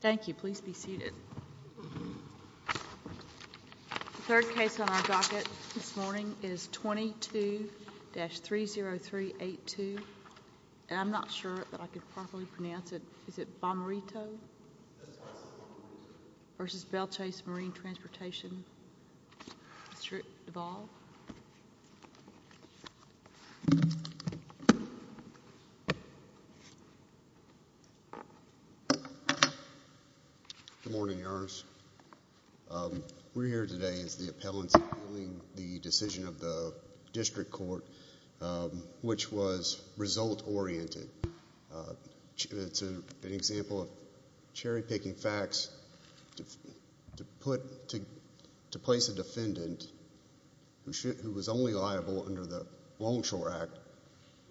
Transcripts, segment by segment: Thank you. Please be seated. The third case on our docket this morning is 22-30382, and I'm not sure that I can properly pronounce it. Is it Bommarito v. Belle Chasse Marine Transportation? Mr. Duvall? Good morning, Your Honors. We're here today as the appellants in the decision of the district court, which was result-oriented. It's an example of cherry-picking facts to place a defendant who was only liable under the Longshore Act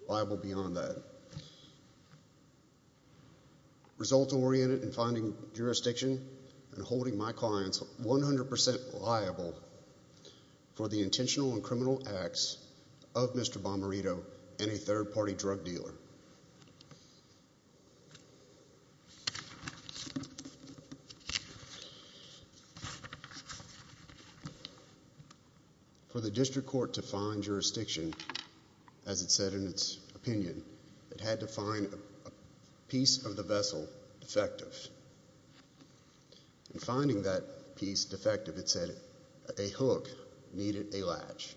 liable beyond that. Result-oriented in finding jurisdiction and holding my clients 100% liable for the intentional and criminal acts of Mr. Bommarito and a third-party drug dealer. For the district court to find jurisdiction, as it said in its opinion, it had to find a piece of the vessel defective. In finding that piece defective, it said a hook needed a latch.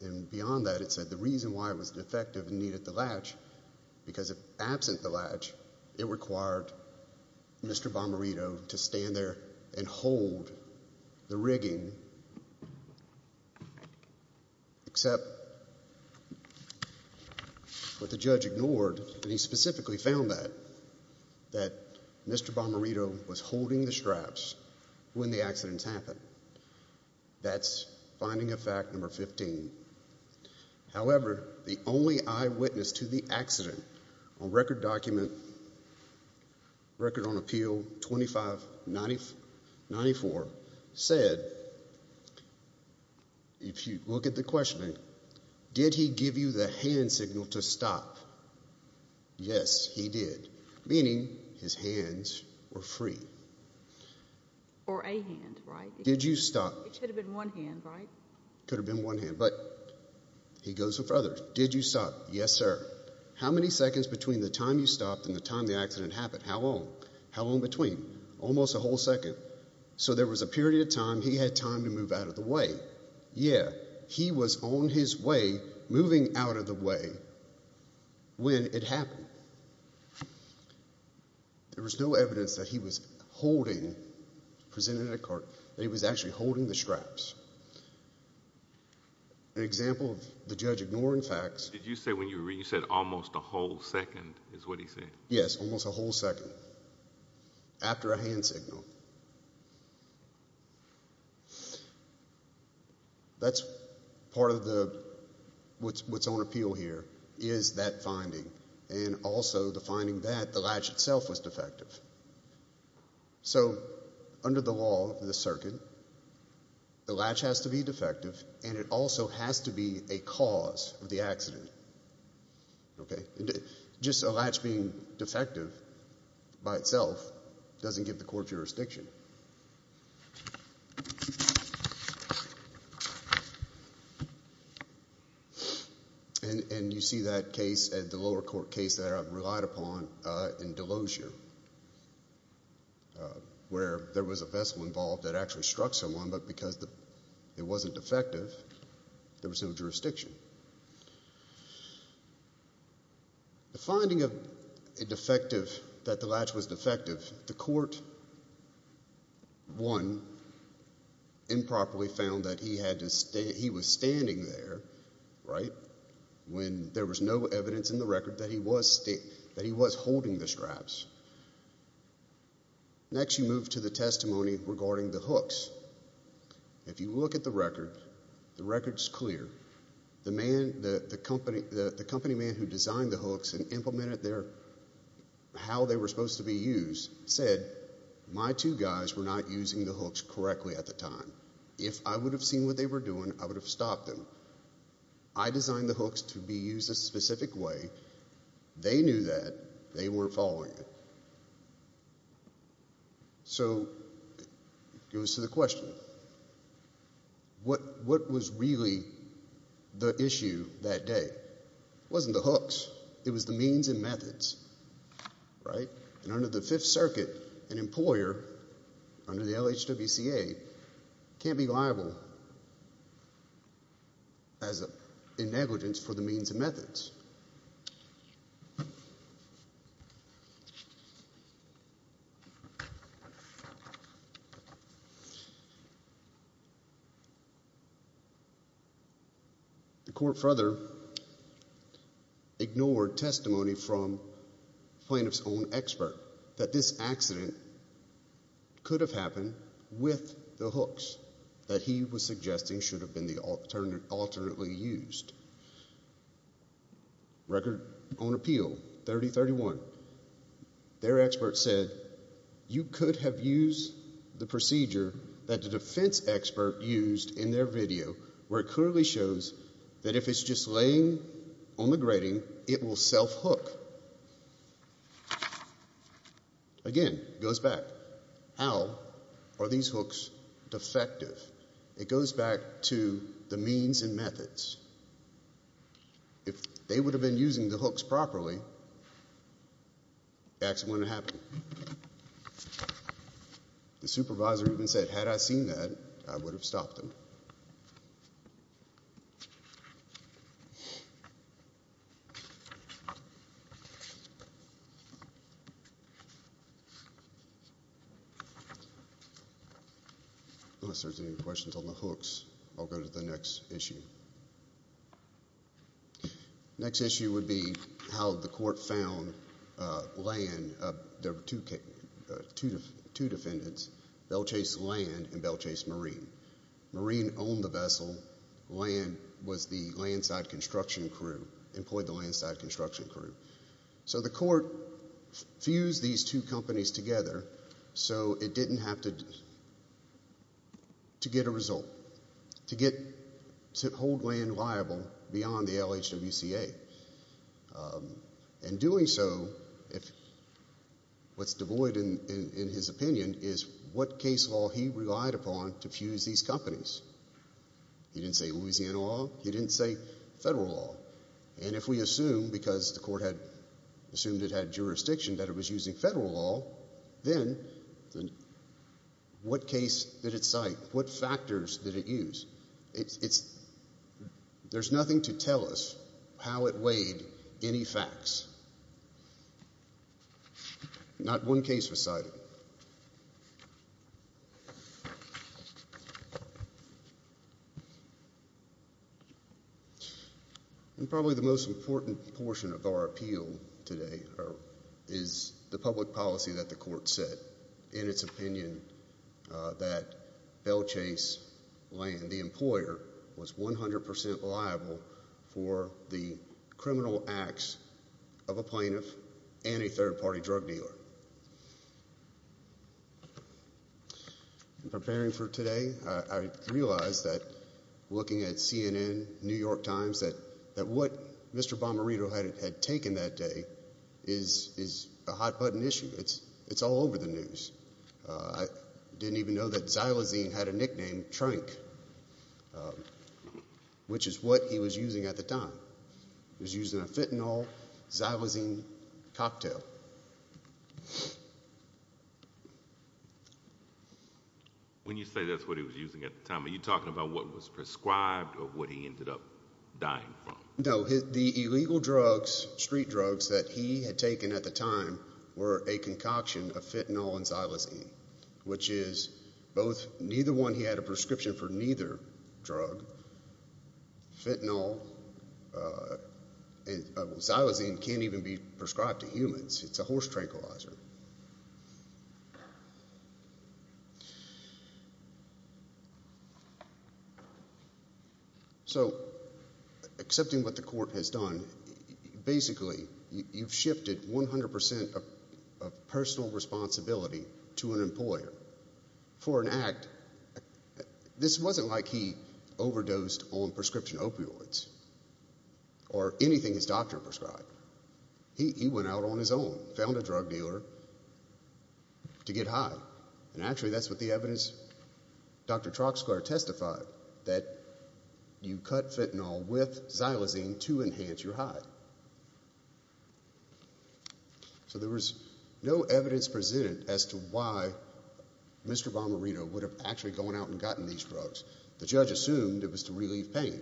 And beyond that, it said the reason why it was defective needed the latch because absent the latch, it required Mr. Bommarito to stand there and hold the rigging except what the judge ignored, and he specifically found that Mr. Bommarito was holding the straps when the accidents happened. That's finding of fact number 15. However, the only eyewitness to the accident on record document, record on appeal 2594, said, if you look at the questioning, did he give you the hand signal to stop? Yes, he did, meaning his hands were free. Or a hand, right? Did you stop? It could have been one hand, right? Could have been one hand, but he goes further. Did you stop? Yes, sir. How many seconds between the time you stopped and the time the accident happened? How long? How long between? Almost a whole second. So there was a period of time he had time to move out of the way. Yeah, he was on his way, moving out of the way, when it happened. There was no evidence that he was holding, presented in a cart, that he was actually holding the straps. An example of the judge ignoring facts. Did you say when you were reading, you said almost a whole second, is what he said? Yes, almost a whole second. After a hand signal. That's part of what's on appeal here is that finding and also the finding that the latch itself was defective. So under the law of the circuit, the latch has to be defective and it also has to be a cause of the accident. Okay? Just a latch being defective by itself doesn't give the court jurisdiction. And you see that case, the lower court case that I've relied upon in Delosia, where there was a vessel involved that actually struck someone, but because it wasn't defective, there was no jurisdiction. The finding of a defective, that the latch was defective, the court, one, improperly found that he was standing there, right, when there was no evidence in the record that he was holding the straps. Next you move to the testimony regarding the hooks. If you look at the record, the record's clear. The man, the company man who designed the hooks and implemented how they were supposed to be used said, my two guys were not using the hooks correctly at the time. If I would have seen what they were doing, I would have stopped them. I designed the hooks to be used a specific way. They knew that. They weren't following it. So it was to the question, what was really the issue that day? It wasn't the hooks. It was the means and methods, right? And under the Fifth Circuit, an employer, under the LHWCA, can't be liable as a negligence for the means and methods. The court further ignored testimony from the plaintiff's own expert that this accident could have happened with the hooks that he was suggesting should have been alternately used. Record on appeal 3031, their expert said, you could have used the procedure that the defense expert used in their video where it clearly shows that if it's just laying on the grating, it will self-hook. Again, it goes back, how are these hooks defective? It goes back to the means and methods. If they would have been using the hooks properly, the accident wouldn't have happened. The supervisor even said, had I seen that, I would have stopped them. Unless there's any questions on the hooks, I'll go to the next issue. The next issue would be how the court found two defendants, Belchase Land and Belchase Marine. and Belchase Marine was the defendant. Belchase Marine owned the vessel. Land was the land side construction crew, employed the land side construction crew. So the court fused these two companies together so it didn't have to get a result, to hold land liable beyond the LHWCA. In doing so, what's devoid in his opinion is what case law he relied upon to fuse these companies. He didn't say Louisiana law. He didn't say federal law. And if we assume, because the court had assumed it had jurisdiction, that it was using federal law, then what case did it cite? What factors did it use? There's nothing to tell us how it weighed any facts. Not one case was cited. And probably the most important portion of our appeal today is the public policy that the court set. In its opinion, that Belchase Land, the employer, was 100% liable for the criminal acts of a plaintiff and a third-party drug dealer. In preparing for today, I realized that looking at CNN, New York Times, that what Mr. Bomarito had taken that day is a hot-button issue. It's all over the news. I didn't even know that Xylazine had a nickname, Trank. Which is what he was using at the time. He was using a fentanyl Xylazine cocktail. When you say that's what he was using at the time, are you talking about what was prescribed or what he ended up dying from? No. The illegal drugs, street drugs, that he had taken at the time were a concoction of fentanyl and Xylazine, which is neither one he had a prescription for neither drug. Fentanyl and Xylazine can't even be prescribed to humans. It's a horse tranquilizer. So, accepting what the court has done, basically you've shifted 100% of personal responsibility to an employer for an act. This wasn't like he overdosed on prescription opioids or anything his doctor prescribed. He went out on his own, found a drug dealer to get high. And actually that's what the evidence Dr. Troxler testified, that you cut fentanyl with Xylazine to enhance your high. So there was no evidence presented as to why Mr. Bomarito would have actually gone out and gotten these drugs. The judge assumed it was to relieve pain.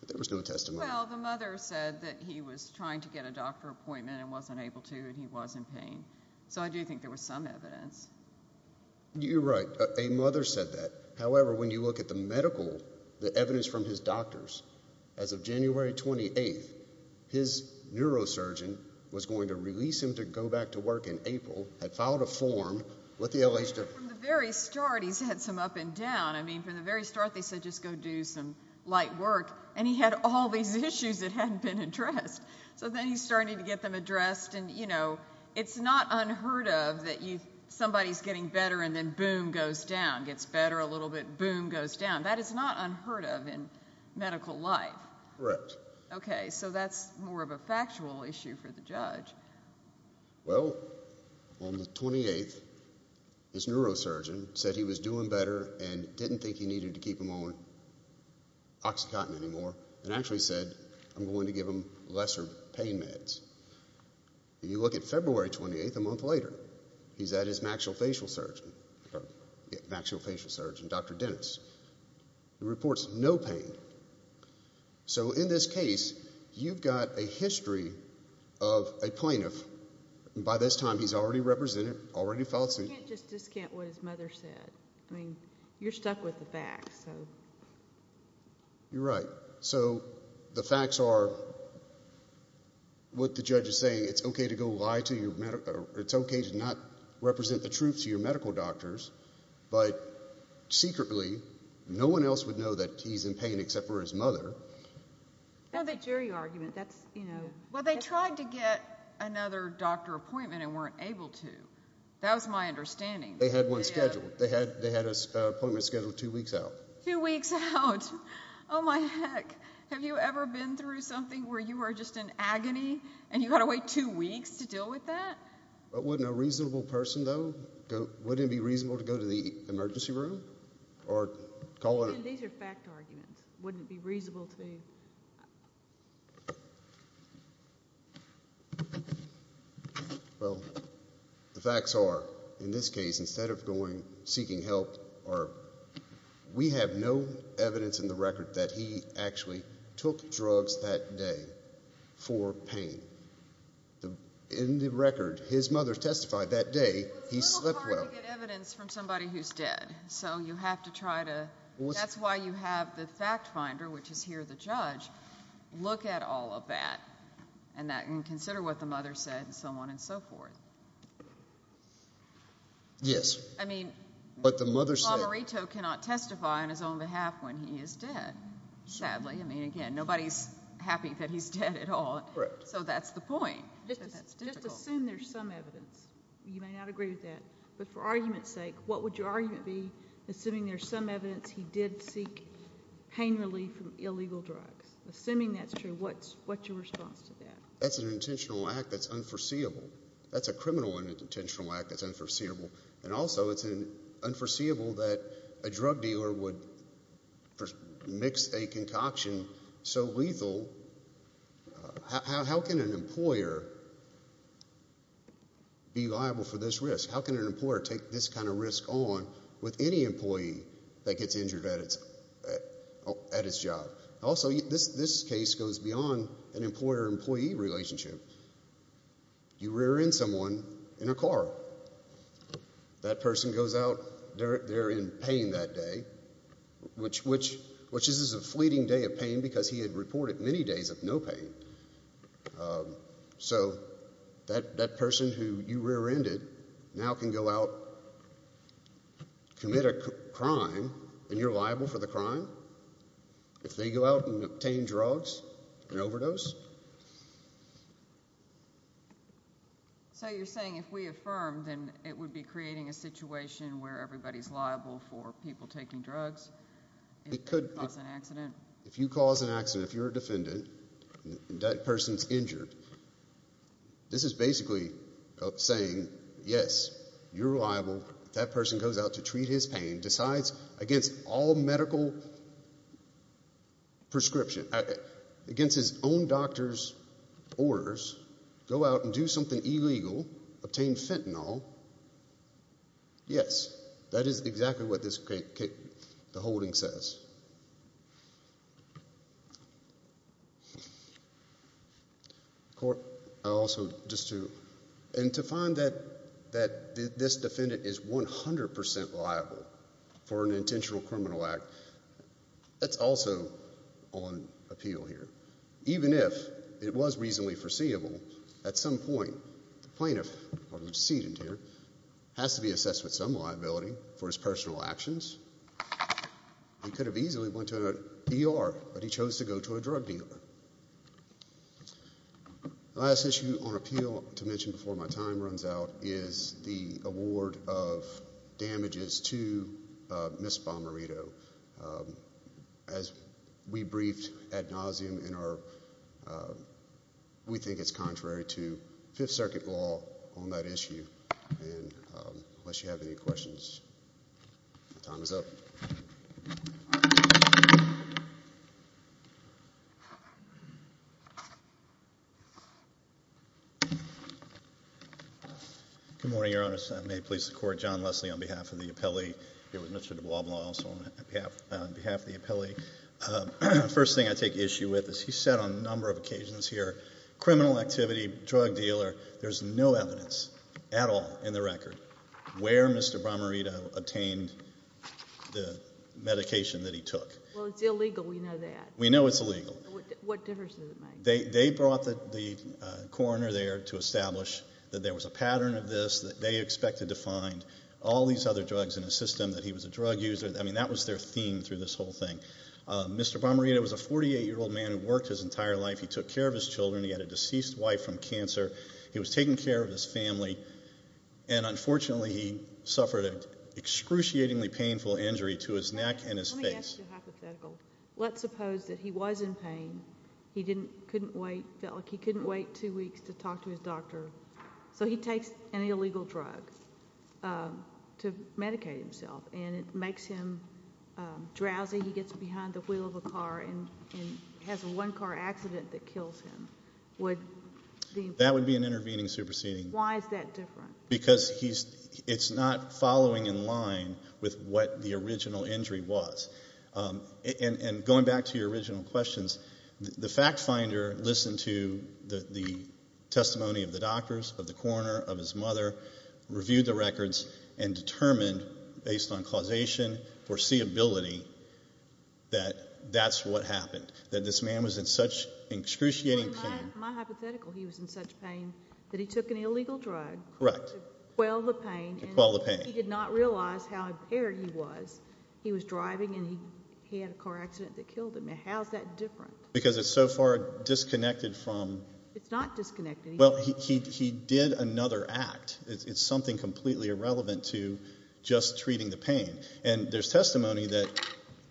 But there was no testimony. Well, the mother said that he was trying to get a doctor appointment and wasn't able to and he was in pain. So I do think there was some evidence. You're right. A mother said that. However, when you look at the medical, the evidence from his doctors, as of January 28th, his neurosurgeon was going to release him to go back to work in April, had filed a form with the LHW. From the very start he's had some up and down. I mean, from the very start they said just go do some light work. And he had all these issues that hadn't been addressed. So then he's starting to get them addressed. And, you know, it's not unheard of that somebody's getting better and then boom, goes down, gets better a little bit, boom, goes down. That is not unheard of in medical life. Correct. Okay, so that's more of a factual issue for the judge. Well, on the 28th his neurosurgeon said he was doing better and didn't think he needed to keep him on OxyContin anymore and actually said I'm going to give him lesser pain meds. You look at February 28th, a month later, he's at his maxillofacial surgeon, Dr. Dennis. He reports no pain. So in this case you've got a history of a plaintiff. By this time he's already represented, already filed suit. You can't just discount what his mother said. I mean, you're stuck with the facts. So the facts are what the judge is saying. It's okay to not represent the truth to your medical doctors, but secretly no one else would know that he's in pain except for his mother. That's a jury argument. Well, they tried to get another doctor appointment and weren't able to. That was my understanding. They had one scheduled. They had an appointment scheduled two weeks out. Two weeks out. Have you ever been through something where you were just in agony and you've got to wait two weeks to deal with that? But wouldn't a reasonable person, though, wouldn't it be reasonable to go to the emergency room? These are fact arguments. Wouldn't it be reasonable to be? Well, the facts are, in this case, instead of seeking help, we have no evidence in the record that he actually took drugs that day for pain. In the record, his mother testified that day he slept well. It's a little hard to get evidence from somebody who's dead. So you have to try to... That's why you have the fact finder, which is here the judge, look at all of that and consider what the mother said and so on and so forth. Yes. But the mother said... Lomarito cannot testify on his own behalf when he is dead, sadly. I mean, again, nobody's happy that he's dead at all. So that's the point. Just assume there's some evidence. You may not agree with that, but for argument's sake, what would your argument be, assuming there's some evidence he did seek pain relief from illegal drugs? Assuming that's true, what's your response to that? That's an intentional act that's unforeseeable. That's a criminal intentional act that's unforeseeable. And also it's unforeseeable that a drug dealer would mix a concoction so lethal... How can an employer be liable for this risk? How can an employer take this kind of risk on with any employee that gets injured at its job? Also, this case goes beyond an employer-employee relationship. You rear-end someone in a car. That person goes out, they're in pain that day, which is a fleeting day of pain because he had reported many days of no pain. So that person who you rear-ended now can go out, commit a crime, and you're liable for the crime? If they go out and obtain drugs, an overdose? So you're saying if we affirm, then it would be creating a situation where everybody's liable for people taking drugs? It could be... If they cause an accident? If you cause an accident, if you're a defendant and that person's injured, this is basically saying, yes, you're liable. That person goes out to treat his pain, decides against all medical prescription, against his own doctor's orders, go out and do something illegal, obtain fentanyl. Yes, that is exactly what the holding says. And to find that this defendant is 100% liable for an intentional criminal act, that's also on appeal here. Even if it was reasonably foreseeable, at some point, the plaintiff, or the decedent here, has to be assessed with some liability for his personal actions. He could have easily been charged with a crime, or he could have easily went to an ER, but he chose to go to a drug dealer. The last issue on appeal, to mention before my time runs out, is the award of damages to Ms. Bomarito. As we briefed ad nauseum in our... we think it's contrary to Fifth Circuit law on that issue. Unless you have any questions, my time is up. Thank you. Good morning, Your Honor. I may please the Court. John Leslie on behalf of the appellee, here with Mr. de Blas Blanc also on behalf of the appellee. The first thing I take issue with is he said on a number of occasions here, criminal activity, drug dealer, there's no evidence at all in the record where Mr. Bomarito obtained the medication that he took. Well, it's illegal. We know that. We know it's illegal. What difference does it make? They brought the coroner there to establish that there was a pattern of this, that they expected to find all these other drugs in his system, that he was a drug user. I mean, that was their theme through this whole thing. Mr. Bomarito was a 48-year-old man who worked his entire life. He took care of his children. He had a deceased wife from cancer. He was taking care of his family. And unfortunately, he suffered an excruciatingly painful injury to his neck and his face. Let me ask you a hypothetical. Let's suppose that he was in pain. He couldn't wait. It felt like he couldn't wait two weeks to talk to his doctor. So he takes an illegal drug to medicate himself, and it makes him drowsy. He gets behind the wheel of a car and has a one-car accident that kills him. That would be an intervening superseding. Why is that different? Because it's not following in line with what the original injury was. And going back to your original questions, the fact finder listened to the testimony of the doctors, of the coroner, of his mother, reviewed the records, and determined, based on causation, foreseeability, that that's what happened, that this man was in such excruciating pain. My hypothetical, he was in such pain that he took an illegal drug to quell the pain. To quell the pain. He did not realize how impaired he was. He was driving, and he had a car accident that killed him. Now, how is that different? Because it's so far disconnected from... It's not disconnected. Well, he did another act. It's something completely irrelevant to just treating the pain. And there's testimony that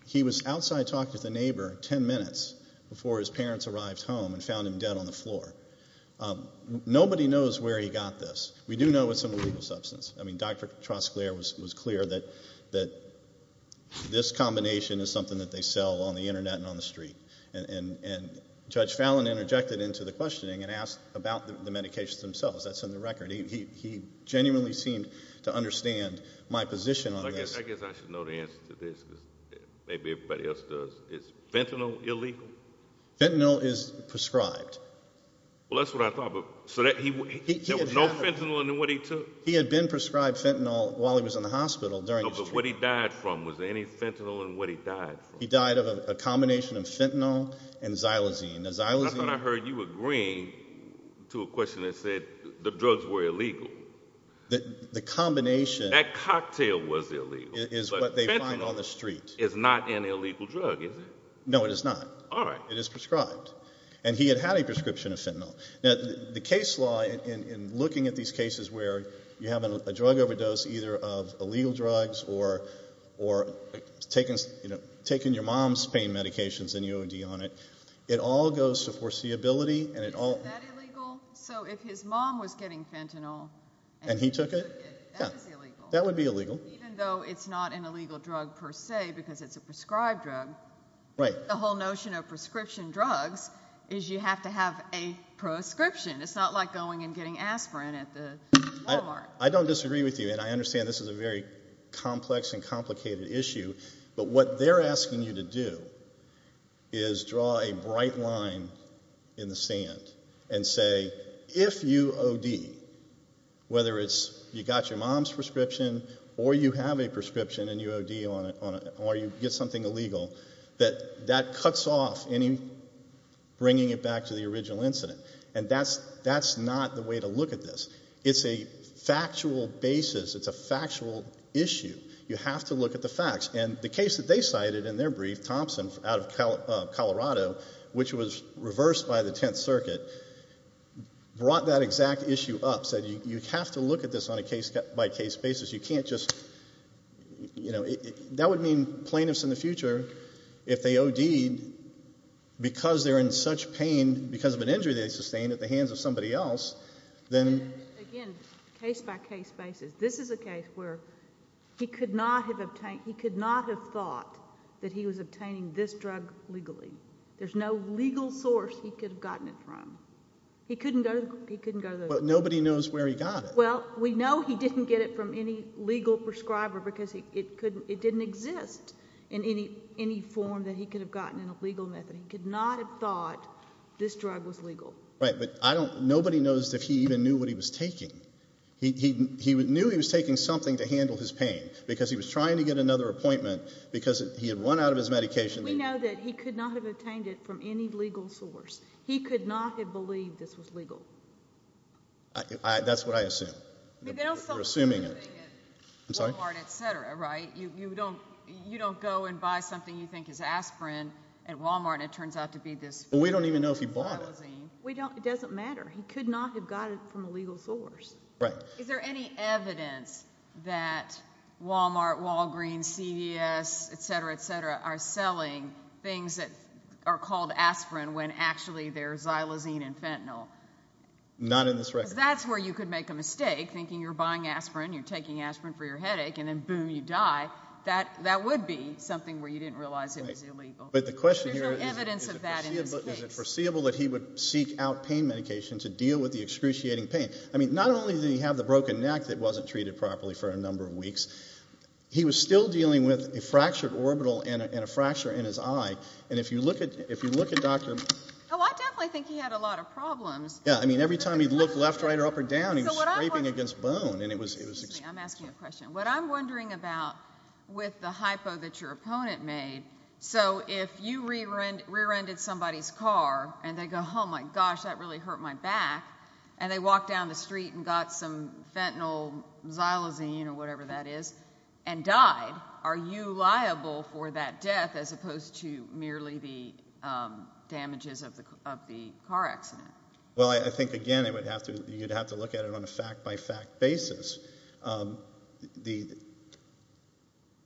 he was outside talking to the neighbor ten minutes before his parents arrived home and found him dead on the floor. Nobody knows where he got this. We do know it's an illegal substance. I mean, Dr. Tresclair was clear that this combination is something that they sell on the Internet and on the street. And Judge Fallon interjected into the questioning and asked about the medications themselves. That's in the record. He genuinely seemed to understand my position on this. I guess I should know the answer to this. Maybe everybody else does. Is fentanyl illegal? Fentanyl is prescribed. Well, that's what I thought. So there was no fentanyl in what he took? He had been prescribed fentanyl while he was in the hospital during his treatment. No, but what he died from? Was there any fentanyl in what he died from? He died of a combination of fentanyl and xylosine. The xylosine... I thought I heard you agreeing to a question that said the drugs were illegal. The combination... That cocktail was illegal. Is what they find on the street. It's not an illegal drug, is it? No, it is not. All right. It is prescribed. And he had had a prescription of fentanyl. Now, the case law in looking at these cases where you have a drug overdose either of illegal drugs or taking your mom's pain medications and you OD on it, it all goes to foreseeability and it all... Isn't that illegal? So if his mom was getting fentanyl... And he took it... That is illegal. That would be illegal. Even though it's not an illegal drug per se because it's a prescribed drug... Right. The whole notion of prescription drugs is you have to have a prescription. It's not like going and getting aspirin at the Walmart. I don't disagree with you, and I understand this is a very complex and complicated issue, but what they're asking you to do is draw a bright line in the sand and say, if you OD, whether it's you got your mom's prescription or you have a prescription and you OD on it or you get something illegal, that that cuts off any bringing it back to the original incident. And that's not the way to look at this. It's a factual basis. It's a factual issue. You have to look at the facts. And the case that they cited in their brief, Thompson out of Colorado, which was reversed by the Tenth Circuit, brought that exact issue up, said you have to look at this on a case-by-case basis. You can't just, you know, that would mean plaintiffs in the future, if they OD'd because they're in such pain because of an injury they sustained at the hands of somebody else, then... Again, case-by-case basis. This is a case where he could not have thought that he was obtaining this drug legally. There's no legal source he could have gotten it from. He couldn't go to the... But nobody knows where he got it. Well, we know he didn't get it from any legal prescriber because it didn't exist in any form that he could have gotten in a legal method. He could not have thought this drug was legal. Right, but nobody knows if he even knew what he was taking. He knew he was taking something to handle his pain because he was trying to get another appointment because he had run out of his medication. We know that he could not have obtained it from any legal source. He could not have believed this was legal. That's what I assume. We're assuming it. Wal-Mart, et cetera, right? You don't go and buy something you think is aspirin at Wal-Mart and it turns out to be this... Well, we don't even know if he bought it. It doesn't matter. He could not have gotten it from a legal source. Right. Is there any evidence that Wal-Mart, Walgreens, CVS, et cetera, et cetera, are selling things that are called aspirin when actually they're xylosine and fentanyl? Not in this record. Because that's where you could make a mistake thinking you're buying aspirin, you're taking aspirin for your headache, and then boom, you die. That would be something where you didn't realize it was illegal. There's no evidence of that in this case. Is it foreseeable that he would seek out pain medication to deal with the excruciating pain? I mean, not only did he have the broken neck that wasn't treated properly for a number of weeks, he was still dealing with a fractured orbital and a fracture in his eye. And if you look at Dr.... Oh, I definitely think he had a lot of problems. Yeah. I mean, every time he'd look left, right, or up or down, he was scraping against bone, and it was... I'm asking a question. What I'm wondering about with the hypo that your opponent made, so if you rear-ended somebody's car and they go, oh, my gosh, that really hurt my back, and they walked down the street and got some fentanyl xylosine or whatever that is and died, are you liable for that death as opposed to merely the damages of the car accident? Well, I think, again, you'd have to look at it on a fact-by-fact basis.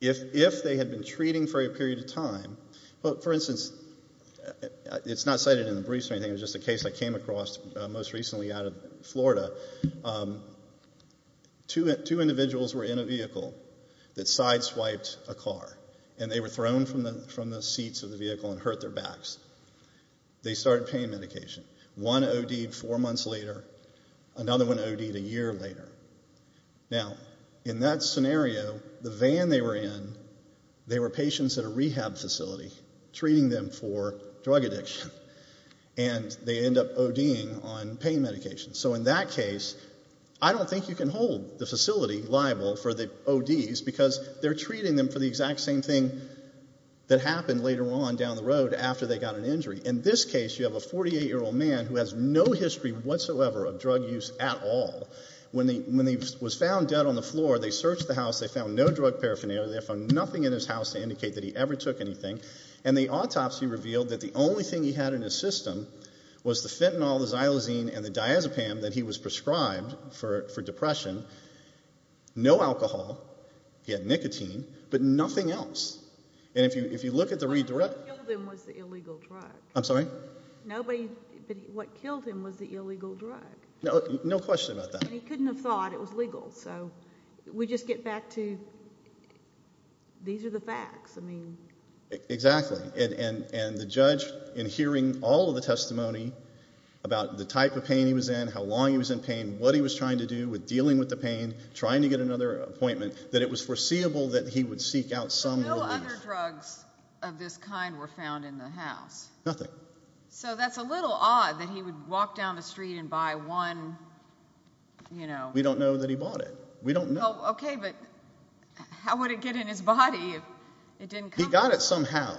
If they had been treating for a period of time, for instance, it's not cited in the briefs or anything, it was just a case I came across most recently out of Florida. Two individuals were in a vehicle that side-swiped a car, and they were thrown from the seats of the vehicle and hurt their backs. They started paying medication. One O.D.ed four months later, another one O.D.ed a year later. Now, in that scenario, the van they were in, they were patients at a rehab facility treating them for drug addiction, and they end up O.D.ing on pain medication. So in that case, I don't think you can hold the facility liable for the O.D.s because they're treating them for the exact same thing that happened later on down the road after they got an injury. In this case, you have a 48-year-old man who has no history whatsoever of drug use at all. When he was found dead on the floor, they searched the house. They found no drug paraphernalia. They found nothing in his house to indicate that he ever took anything. And the autopsy revealed that the only thing he had in his system was the fentanyl, the xylosine, and the diazepam that he was prescribed for depression. No alcohol. He had nicotine. But nothing else. What killed him was the illegal drug. I'm sorry? What killed him was the illegal drug. No question about that. And he couldn't have thought it was legal. So we just get back to these are the facts. Exactly. And the judge, in hearing all of the testimony about the type of pain he was in, how long he was in pain, what he was trying to do with dealing with the pain, trying to get another appointment, that it was foreseeable that he would seek out some relief. No other drugs of this kind were found in the house. Nothing. So that's a little odd that he would walk down the street and buy one, you know. We don't know that he bought it. We don't know. Okay, but how would it get in his body if it didn't come? He got it somehow.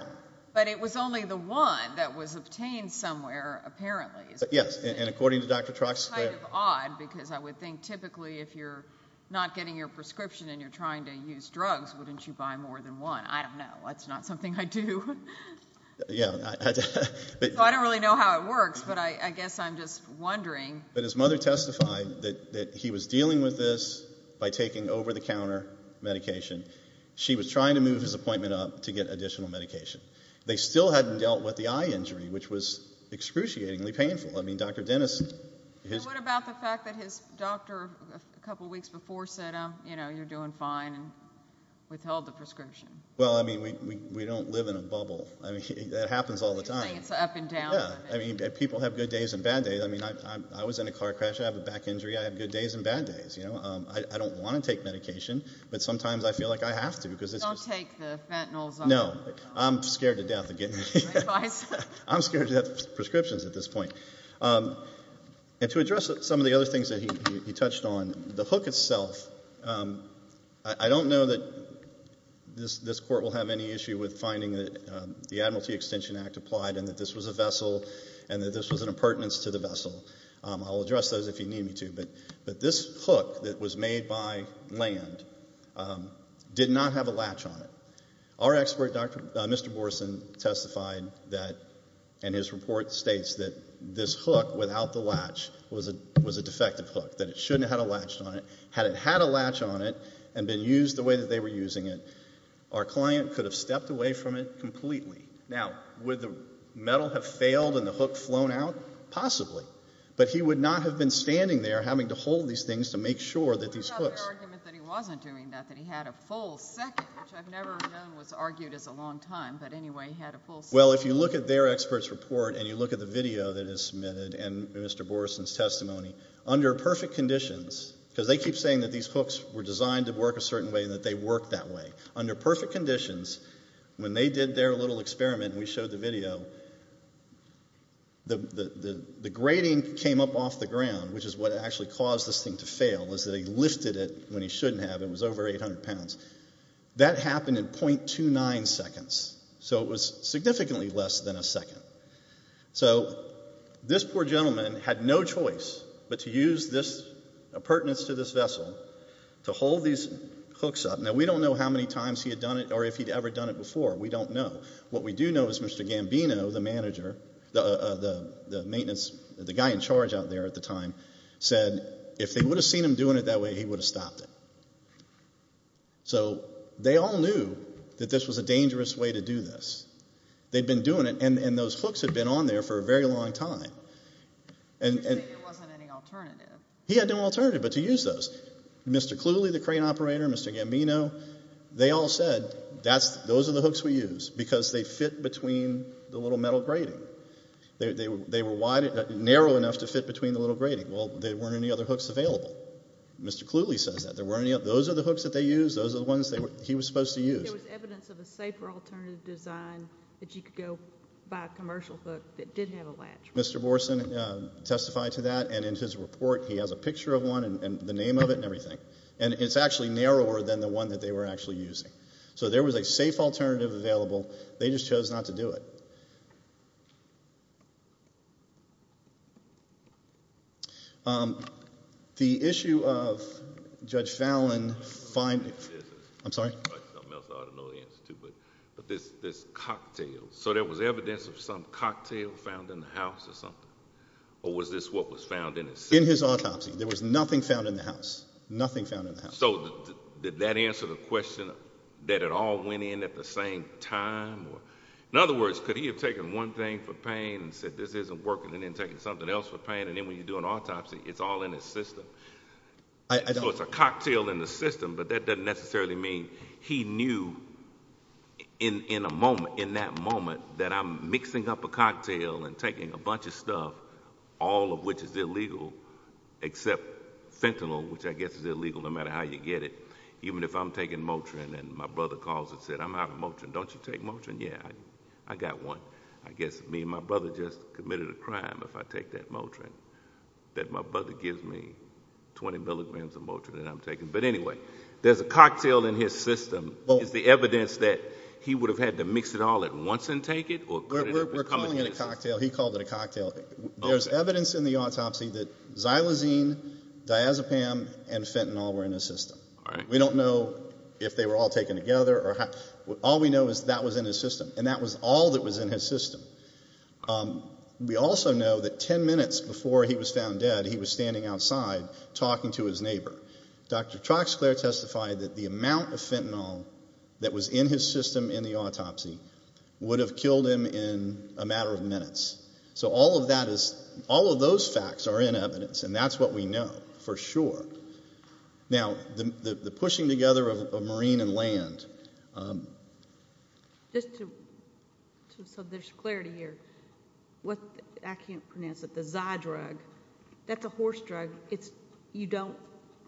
But it was only the one that was obtained somewhere, apparently. Yes, and according to Dr. Troxler. That's kind of odd because I would think typically if you're not getting your prescription and you're trying to use drugs, wouldn't you buy more than one? I don't know. That's not something I do. Yeah. So I don't really know how it works, but I guess I'm just wondering. But his mother testified that he was dealing with this by taking over-the-counter medication. She was trying to move his appointment up to get additional medication. They still hadn't dealt with the eye injury, which was excruciatingly painful. I mean, Dr. Dennis. What about the fact that his doctor a couple weeks before said, you know, you're doing fine and withheld the prescription? Well, I mean, we don't live in a bubble. I mean, that happens all the time. You're saying it's up and down. Yeah. I mean, people have good days and bad days. I mean, I was in a car crash. I have a back injury. I have good days and bad days, you know. I don't want to take medication, but sometimes I feel like I have to. Don't take the fentanyl. No. I'm scared to death of getting it. I'm scared to death of prescriptions at this point. And to address some of the other things that he touched on, the hook itself, I don't know that this court will have any issue with finding that the Admiralty Extension Act applied and that this was a vessel and that this was an appurtenance to the vessel. I'll address those if you need me to. But this hook that was made by land did not have a latch on it. Our expert, Mr. Borson, testified that in his report states that this hook without the latch was a defective hook, that it shouldn't have had a latch on it. Had it had a latch on it and been used the way that they were using it, our client could have stepped away from it completely. Now, would the metal have failed and the hook flown out? Possibly. But he would not have been standing there having to hold these things to make sure that these hooks. There was an argument that he wasn't doing that, that he had a full second, which I've never known was argued as a long time. But anyway, he had a full second. Well, if you look at their expert's report and you look at the video that is submitted and Mr. Borson's testimony, under perfect conditions, because they keep saying that these hooks were designed to work a certain way and that they worked that way, under perfect conditions, when they did their little experiment and we showed the video, the grating came up off the ground, which is what actually caused this thing to fail, is that he lifted it when he shouldn't have. It was over 800 pounds. That happened in .29 seconds. So it was significantly less than a second. So this poor gentleman had no choice but to use this appurtenance to this vessel to hold these hooks up. Now, we don't know how many times he had done it or if he'd ever done it before. We don't know. What we do know is Mr. Gambino, the manager, the maintenance, the guy in charge out there at the time, said if they would have seen him doing it that way, he would have stopped it. So they all knew that this was a dangerous way to do this. They'd been doing it and those hooks had been on there for a very long time. You're saying there wasn't any alternative. He had no alternative but to use those. Mr. Cooley, the crane operator, Mr. Gambino, they all said, those are the hooks we use because they fit between the little metal grating. They were narrow enough to fit between the little grating. Well, there weren't any other hooks available. Mr. Cooley says that. Those are the hooks that they use. Those are the ones he was supposed to use. There was evidence of a safer alternative design that you could go buy a commercial hook that did have a latch. Mr. Borson testified to that, and in his report he has a picture of one and the name of it and everything. And it's actually narrower than the one that they were actually using. So there was a safe alternative available. They just chose not to do it. The issue of Judge Fallon finding this cocktail. So there was evidence of some cocktail found in the house or something, or was this what was found in his cell? In his autopsy. There was nothing found in the house, nothing found in the house. So did that answer the question that it all went in at the same time? In other words, could he have taken one thing for pain and said this isn't working, and then taken something else for pain, and then when you do an autopsy it's all in his system? So it's a cocktail in the system, but that doesn't necessarily mean he knew in that moment that I'm mixing up a cocktail and taking a bunch of stuff, all of which is illegal, except fentanyl, which I guess is illegal no matter how you get it, even if I'm taking Motrin and my brother calls and says I'm out of Motrin, don't you take Motrin? Yeah, I got one. I guess me and my brother just committed a crime if I take that Motrin, that my brother gives me 20 milligrams of Motrin that I'm taking. But anyway, there's a cocktail in his system. Is the evidence that he would have had to mix it all at once and take it? We're calling it a cocktail. He called it a cocktail. There's evidence in the autopsy that xylosine, diazepam, and fentanyl were in his system. We don't know if they were all taken together. All we know is that was in his system, and that was all that was in his system. We also know that 10 minutes before he was found dead he was standing outside talking to his neighbor. Dr. Troxler testified that the amount of fentanyl that was in his system in the autopsy would have killed him in a matter of minutes. So all of that is, all of those facts are in evidence, and that's what we know for sure. Now, the pushing together of marine and land. Just to, so there's clarity here. What, I can't pronounce it, the Zydrug, that's a horse drug. It's, you don't,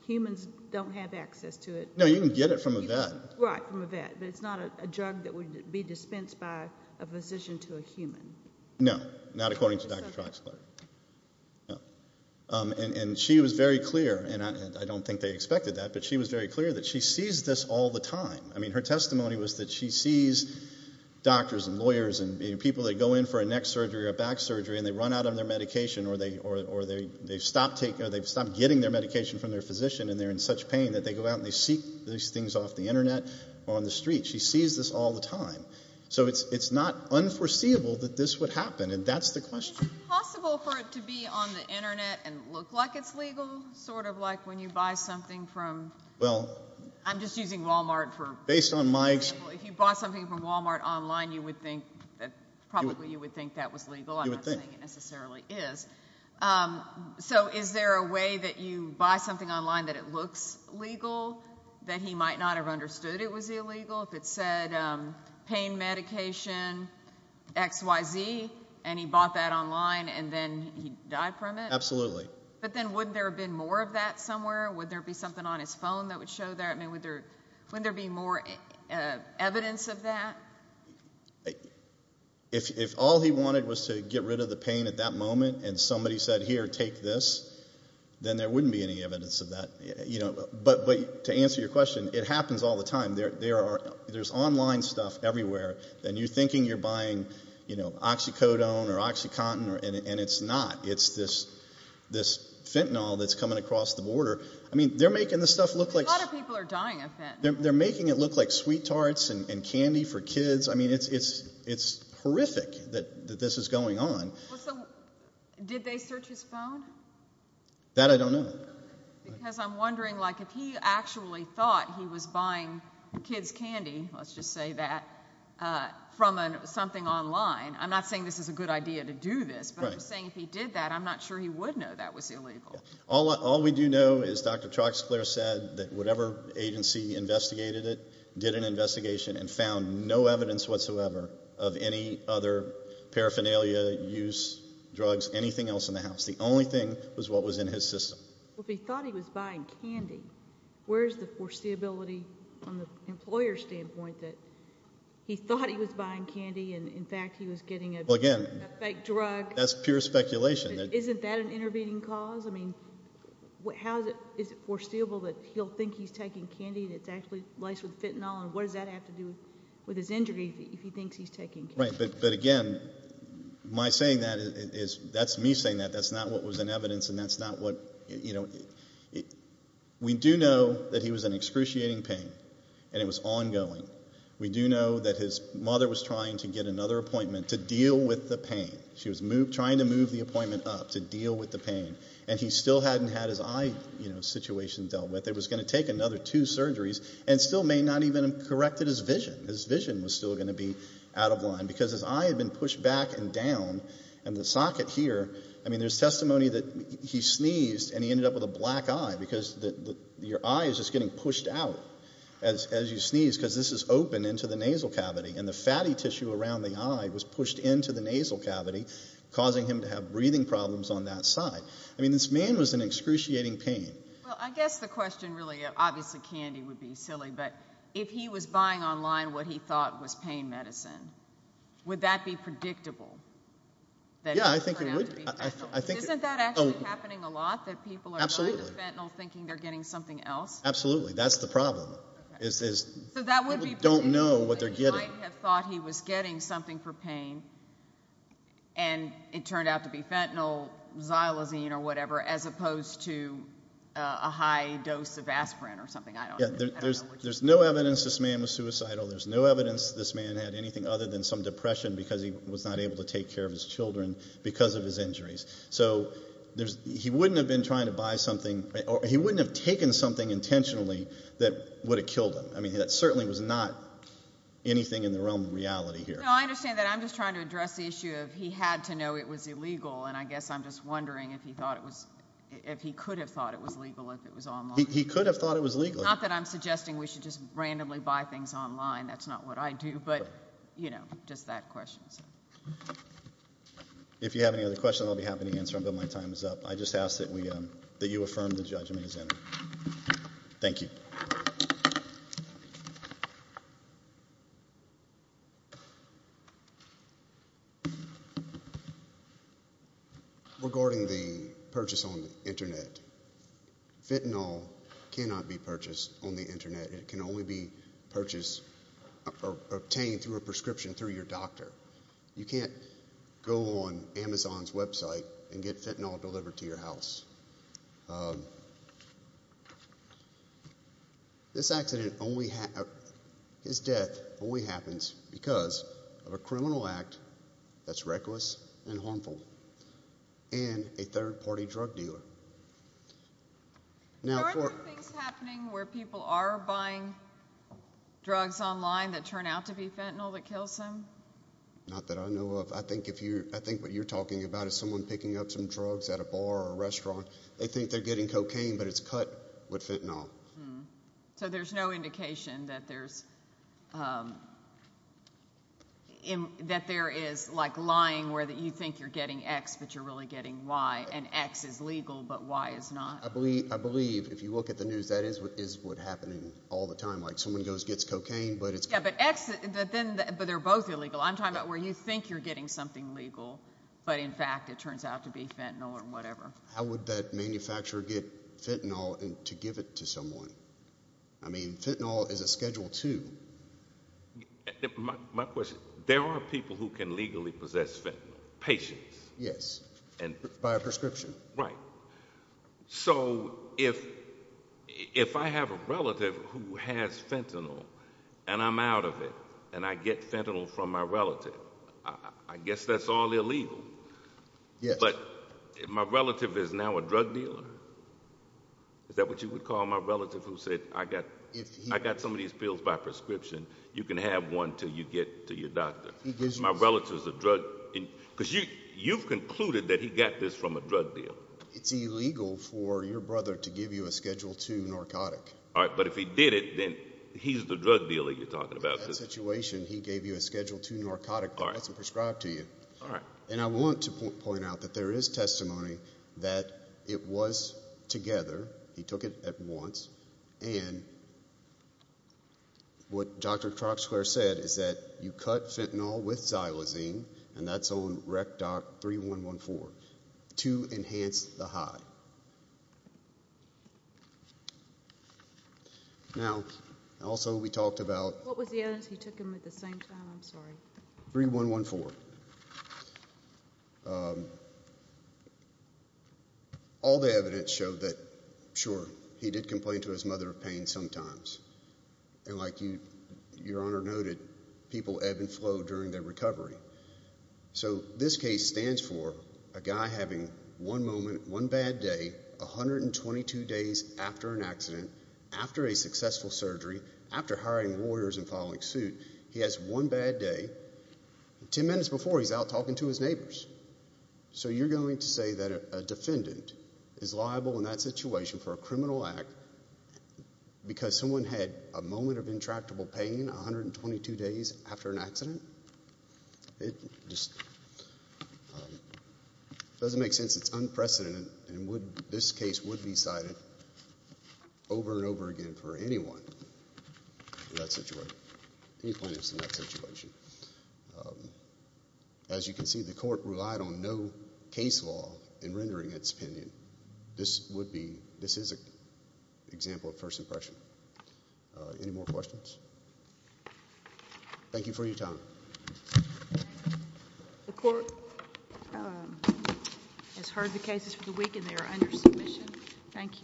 humans don't have access to it. No, you can get it from a vet. Right, from a vet. No, not according to Dr. Troxler. No. And she was very clear, and I don't think they expected that, but she was very clear that she sees this all the time. I mean, her testimony was that she sees doctors and lawyers and people that go in for a neck surgery or a back surgery and they run out of their medication or they've stopped getting their medication from their physician and they're in such pain that they go out and they seek these things off the Internet or on the street. She sees this all the time. So it's not unforeseeable that this would happen, and that's the question. Is it possible for it to be on the Internet and look like it's legal, sort of like when you buy something from... Well... I'm just using Walmart for... Based on Mike's... If you bought something from Walmart online, you would think, probably you would think that was legal. You would think. I'm not saying it necessarily is. So is there a way that you buy something online that it looks legal, that he might not have understood it was illegal? If it said pain medication X, Y, Z, and he bought that online and then he died from it? Absolutely. But then wouldn't there have been more of that somewhere? Would there be something on his phone that would show that? I mean, wouldn't there be more evidence of that? If all he wanted was to get rid of the pain at that moment and somebody said, here, take this, then there wouldn't be any evidence of that. But to answer your question, it happens all the time. There's online stuff everywhere, and you're thinking you're buying oxycodone or oxycontin, and it's not. It's this fentanyl that's coming across the border. I mean, they're making this stuff look like... A lot of people are dying of fentanyl. They're making it look like sweet tarts and candy for kids. I mean, it's horrific that this is going on. Did they search his phone? That I don't know. Because I'm wondering, like, if he actually thought he was buying kids' candy, let's just say that, from something online. I'm not saying this is a good idea to do this, but I'm saying if he did that, I'm not sure he would know that was illegal. All we do know is Dr. Troxler said that whatever agency investigated it did an investigation and found no evidence whatsoever of any other paraphernalia, use, drugs, anything else in the house. The only thing was what was in his system. Well, if he thought he was buying candy, where's the foreseeability from the employer's standpoint that he thought he was buying candy and, in fact, he was getting a fake drug? That's pure speculation. Isn't that an intervening cause? I mean, is it foreseeable that he'll think he's taking candy that's actually laced with fentanyl, and what does that have to do with his injury if he thinks he's taking candy? Right, but, again, my saying that is... That's me saying that. That's not what was in evidence, and that's not what, you know... We do know that he was in excruciating pain, and it was ongoing. We do know that his mother was trying to get another appointment to deal with the pain. She was trying to move the appointment up to deal with the pain, and he still hadn't had his eye situation dealt with. It was going to take another two surgeries and still may not even have corrected his vision. His vision was still going to be out of line because his eye had been pushed back and down, and the socket here... I mean, there's testimony that he sneezed and he ended up with a black eye because your eye is just getting pushed out as you sneeze because this is open into the nasal cavity, and the fatty tissue around the eye was pushed into the nasal cavity, causing him to have breathing problems on that side. I mean, this man was in excruciating pain. Well, I guess the question really... Obviously, candy would be silly, but if he was buying online what he thought was pain medicine, would that be predictable? Yeah, I think it would. Isn't that actually happening a lot, that people are buying fentanyl thinking they're getting something else? Absolutely. That's the problem. People don't know what they're getting. So that would be predictable. He might have thought he was getting something for pain, and it turned out to be fentanyl, xylosine or whatever, as opposed to a high dose of aspirin or something. There's no evidence this man was suicidal. There's no evidence this man had anything other than some depression because he was not able to take care of his children because of his injuries. So he wouldn't have been trying to buy something... He wouldn't have taken something intentionally that would have killed him. I mean, that certainly was not anything in the realm of reality here. No, I understand that. I'm just trying to address the issue of he had to know it was illegal, and I guess I'm just wondering if he thought it was... if he could have thought it was legal if it was online. He could have thought it was legal. Not that I'm suggesting we should just randomly buy things online. That's not what I do, but, you know, just that question. If you have any other questions, I'll be happy to answer them, but my time is up. I just ask that you affirm the judgment as entered. Thank you. Regarding the purchase on the Internet, fentanyl cannot be purchased on the Internet. It can only be purchased or obtained through a prescription through your doctor. You can't go on Amazon's website and get fentanyl delivered to your house. This accident only happened... His death only happens because of a criminal act that's reckless and harmful and a third-party drug dealer. Are there things happening where people are buying drugs online that turn out to be fentanyl that kills them? Not that I know of. I think what you're talking about is someone picking up some drugs at a bar or a restaurant. They think they're getting cocaine, but it's cut with fentanyl. So there's no indication that there's... that there is, like, lying where you think you're getting X, but you're really getting Y, and X is legal, but Y is not. I believe, if you look at the news, that is what's happening all the time. Like, someone gets cocaine, but it's... Yeah, but X, but they're both illegal. I'm talking about where you think you're getting something legal, but in fact it turns out to be fentanyl or whatever. How would that manufacturer get fentanyl to give it to someone? I mean, fentanyl is a Schedule II. My question, there are people who can legally possess fentanyl, patients. Yes, by a prescription. Right. So if I have a relative who has fentanyl and I'm out of it and I get fentanyl from my relative, I guess that's all illegal. Yes. But if my relative is now a drug dealer, is that what you would call my relative who said, I got some of these pills by prescription, you can have one until you get to your doctor? Because you've concluded that he got this from a drug deal. It's illegal for your brother to give you a Schedule II narcotic. But if he did it, then he's the drug dealer you're talking about. In that situation, he gave you a Schedule II narcotic that wasn't prescribed to you. And I want to point out that there is testimony that it was together, he took it at once, and what Dr. Troxler said is that you cut fentanyl with xylosine, and that's on RECDOT 3114, to enhance the high. Now, also we talked about- What was the evidence he took them at the same time? I'm sorry. 3114. 3114. All the evidence showed that, sure, he did complain to his mother of pain sometimes. And like Your Honor noted, people ebb and flow during their recovery. So this case stands for a guy having one moment, one bad day, 122 days after an accident, after a successful surgery, after hiring lawyers and following suit, he has one bad day. Ten minutes before, he's out talking to his neighbors. So you're going to say that a defendant is liable in that situation for a criminal act because someone had a moment of intractable pain 122 days after an accident? It just doesn't make sense. It's unprecedented, and this case would be cited over and over again for anyone in that situation. As you can see, the court relied on no case law in rendering its opinion. This would be-this is an example of first impression. Any more questions? Thank you for your time. The court has heard the cases for the week, and they are under submission. Thank you.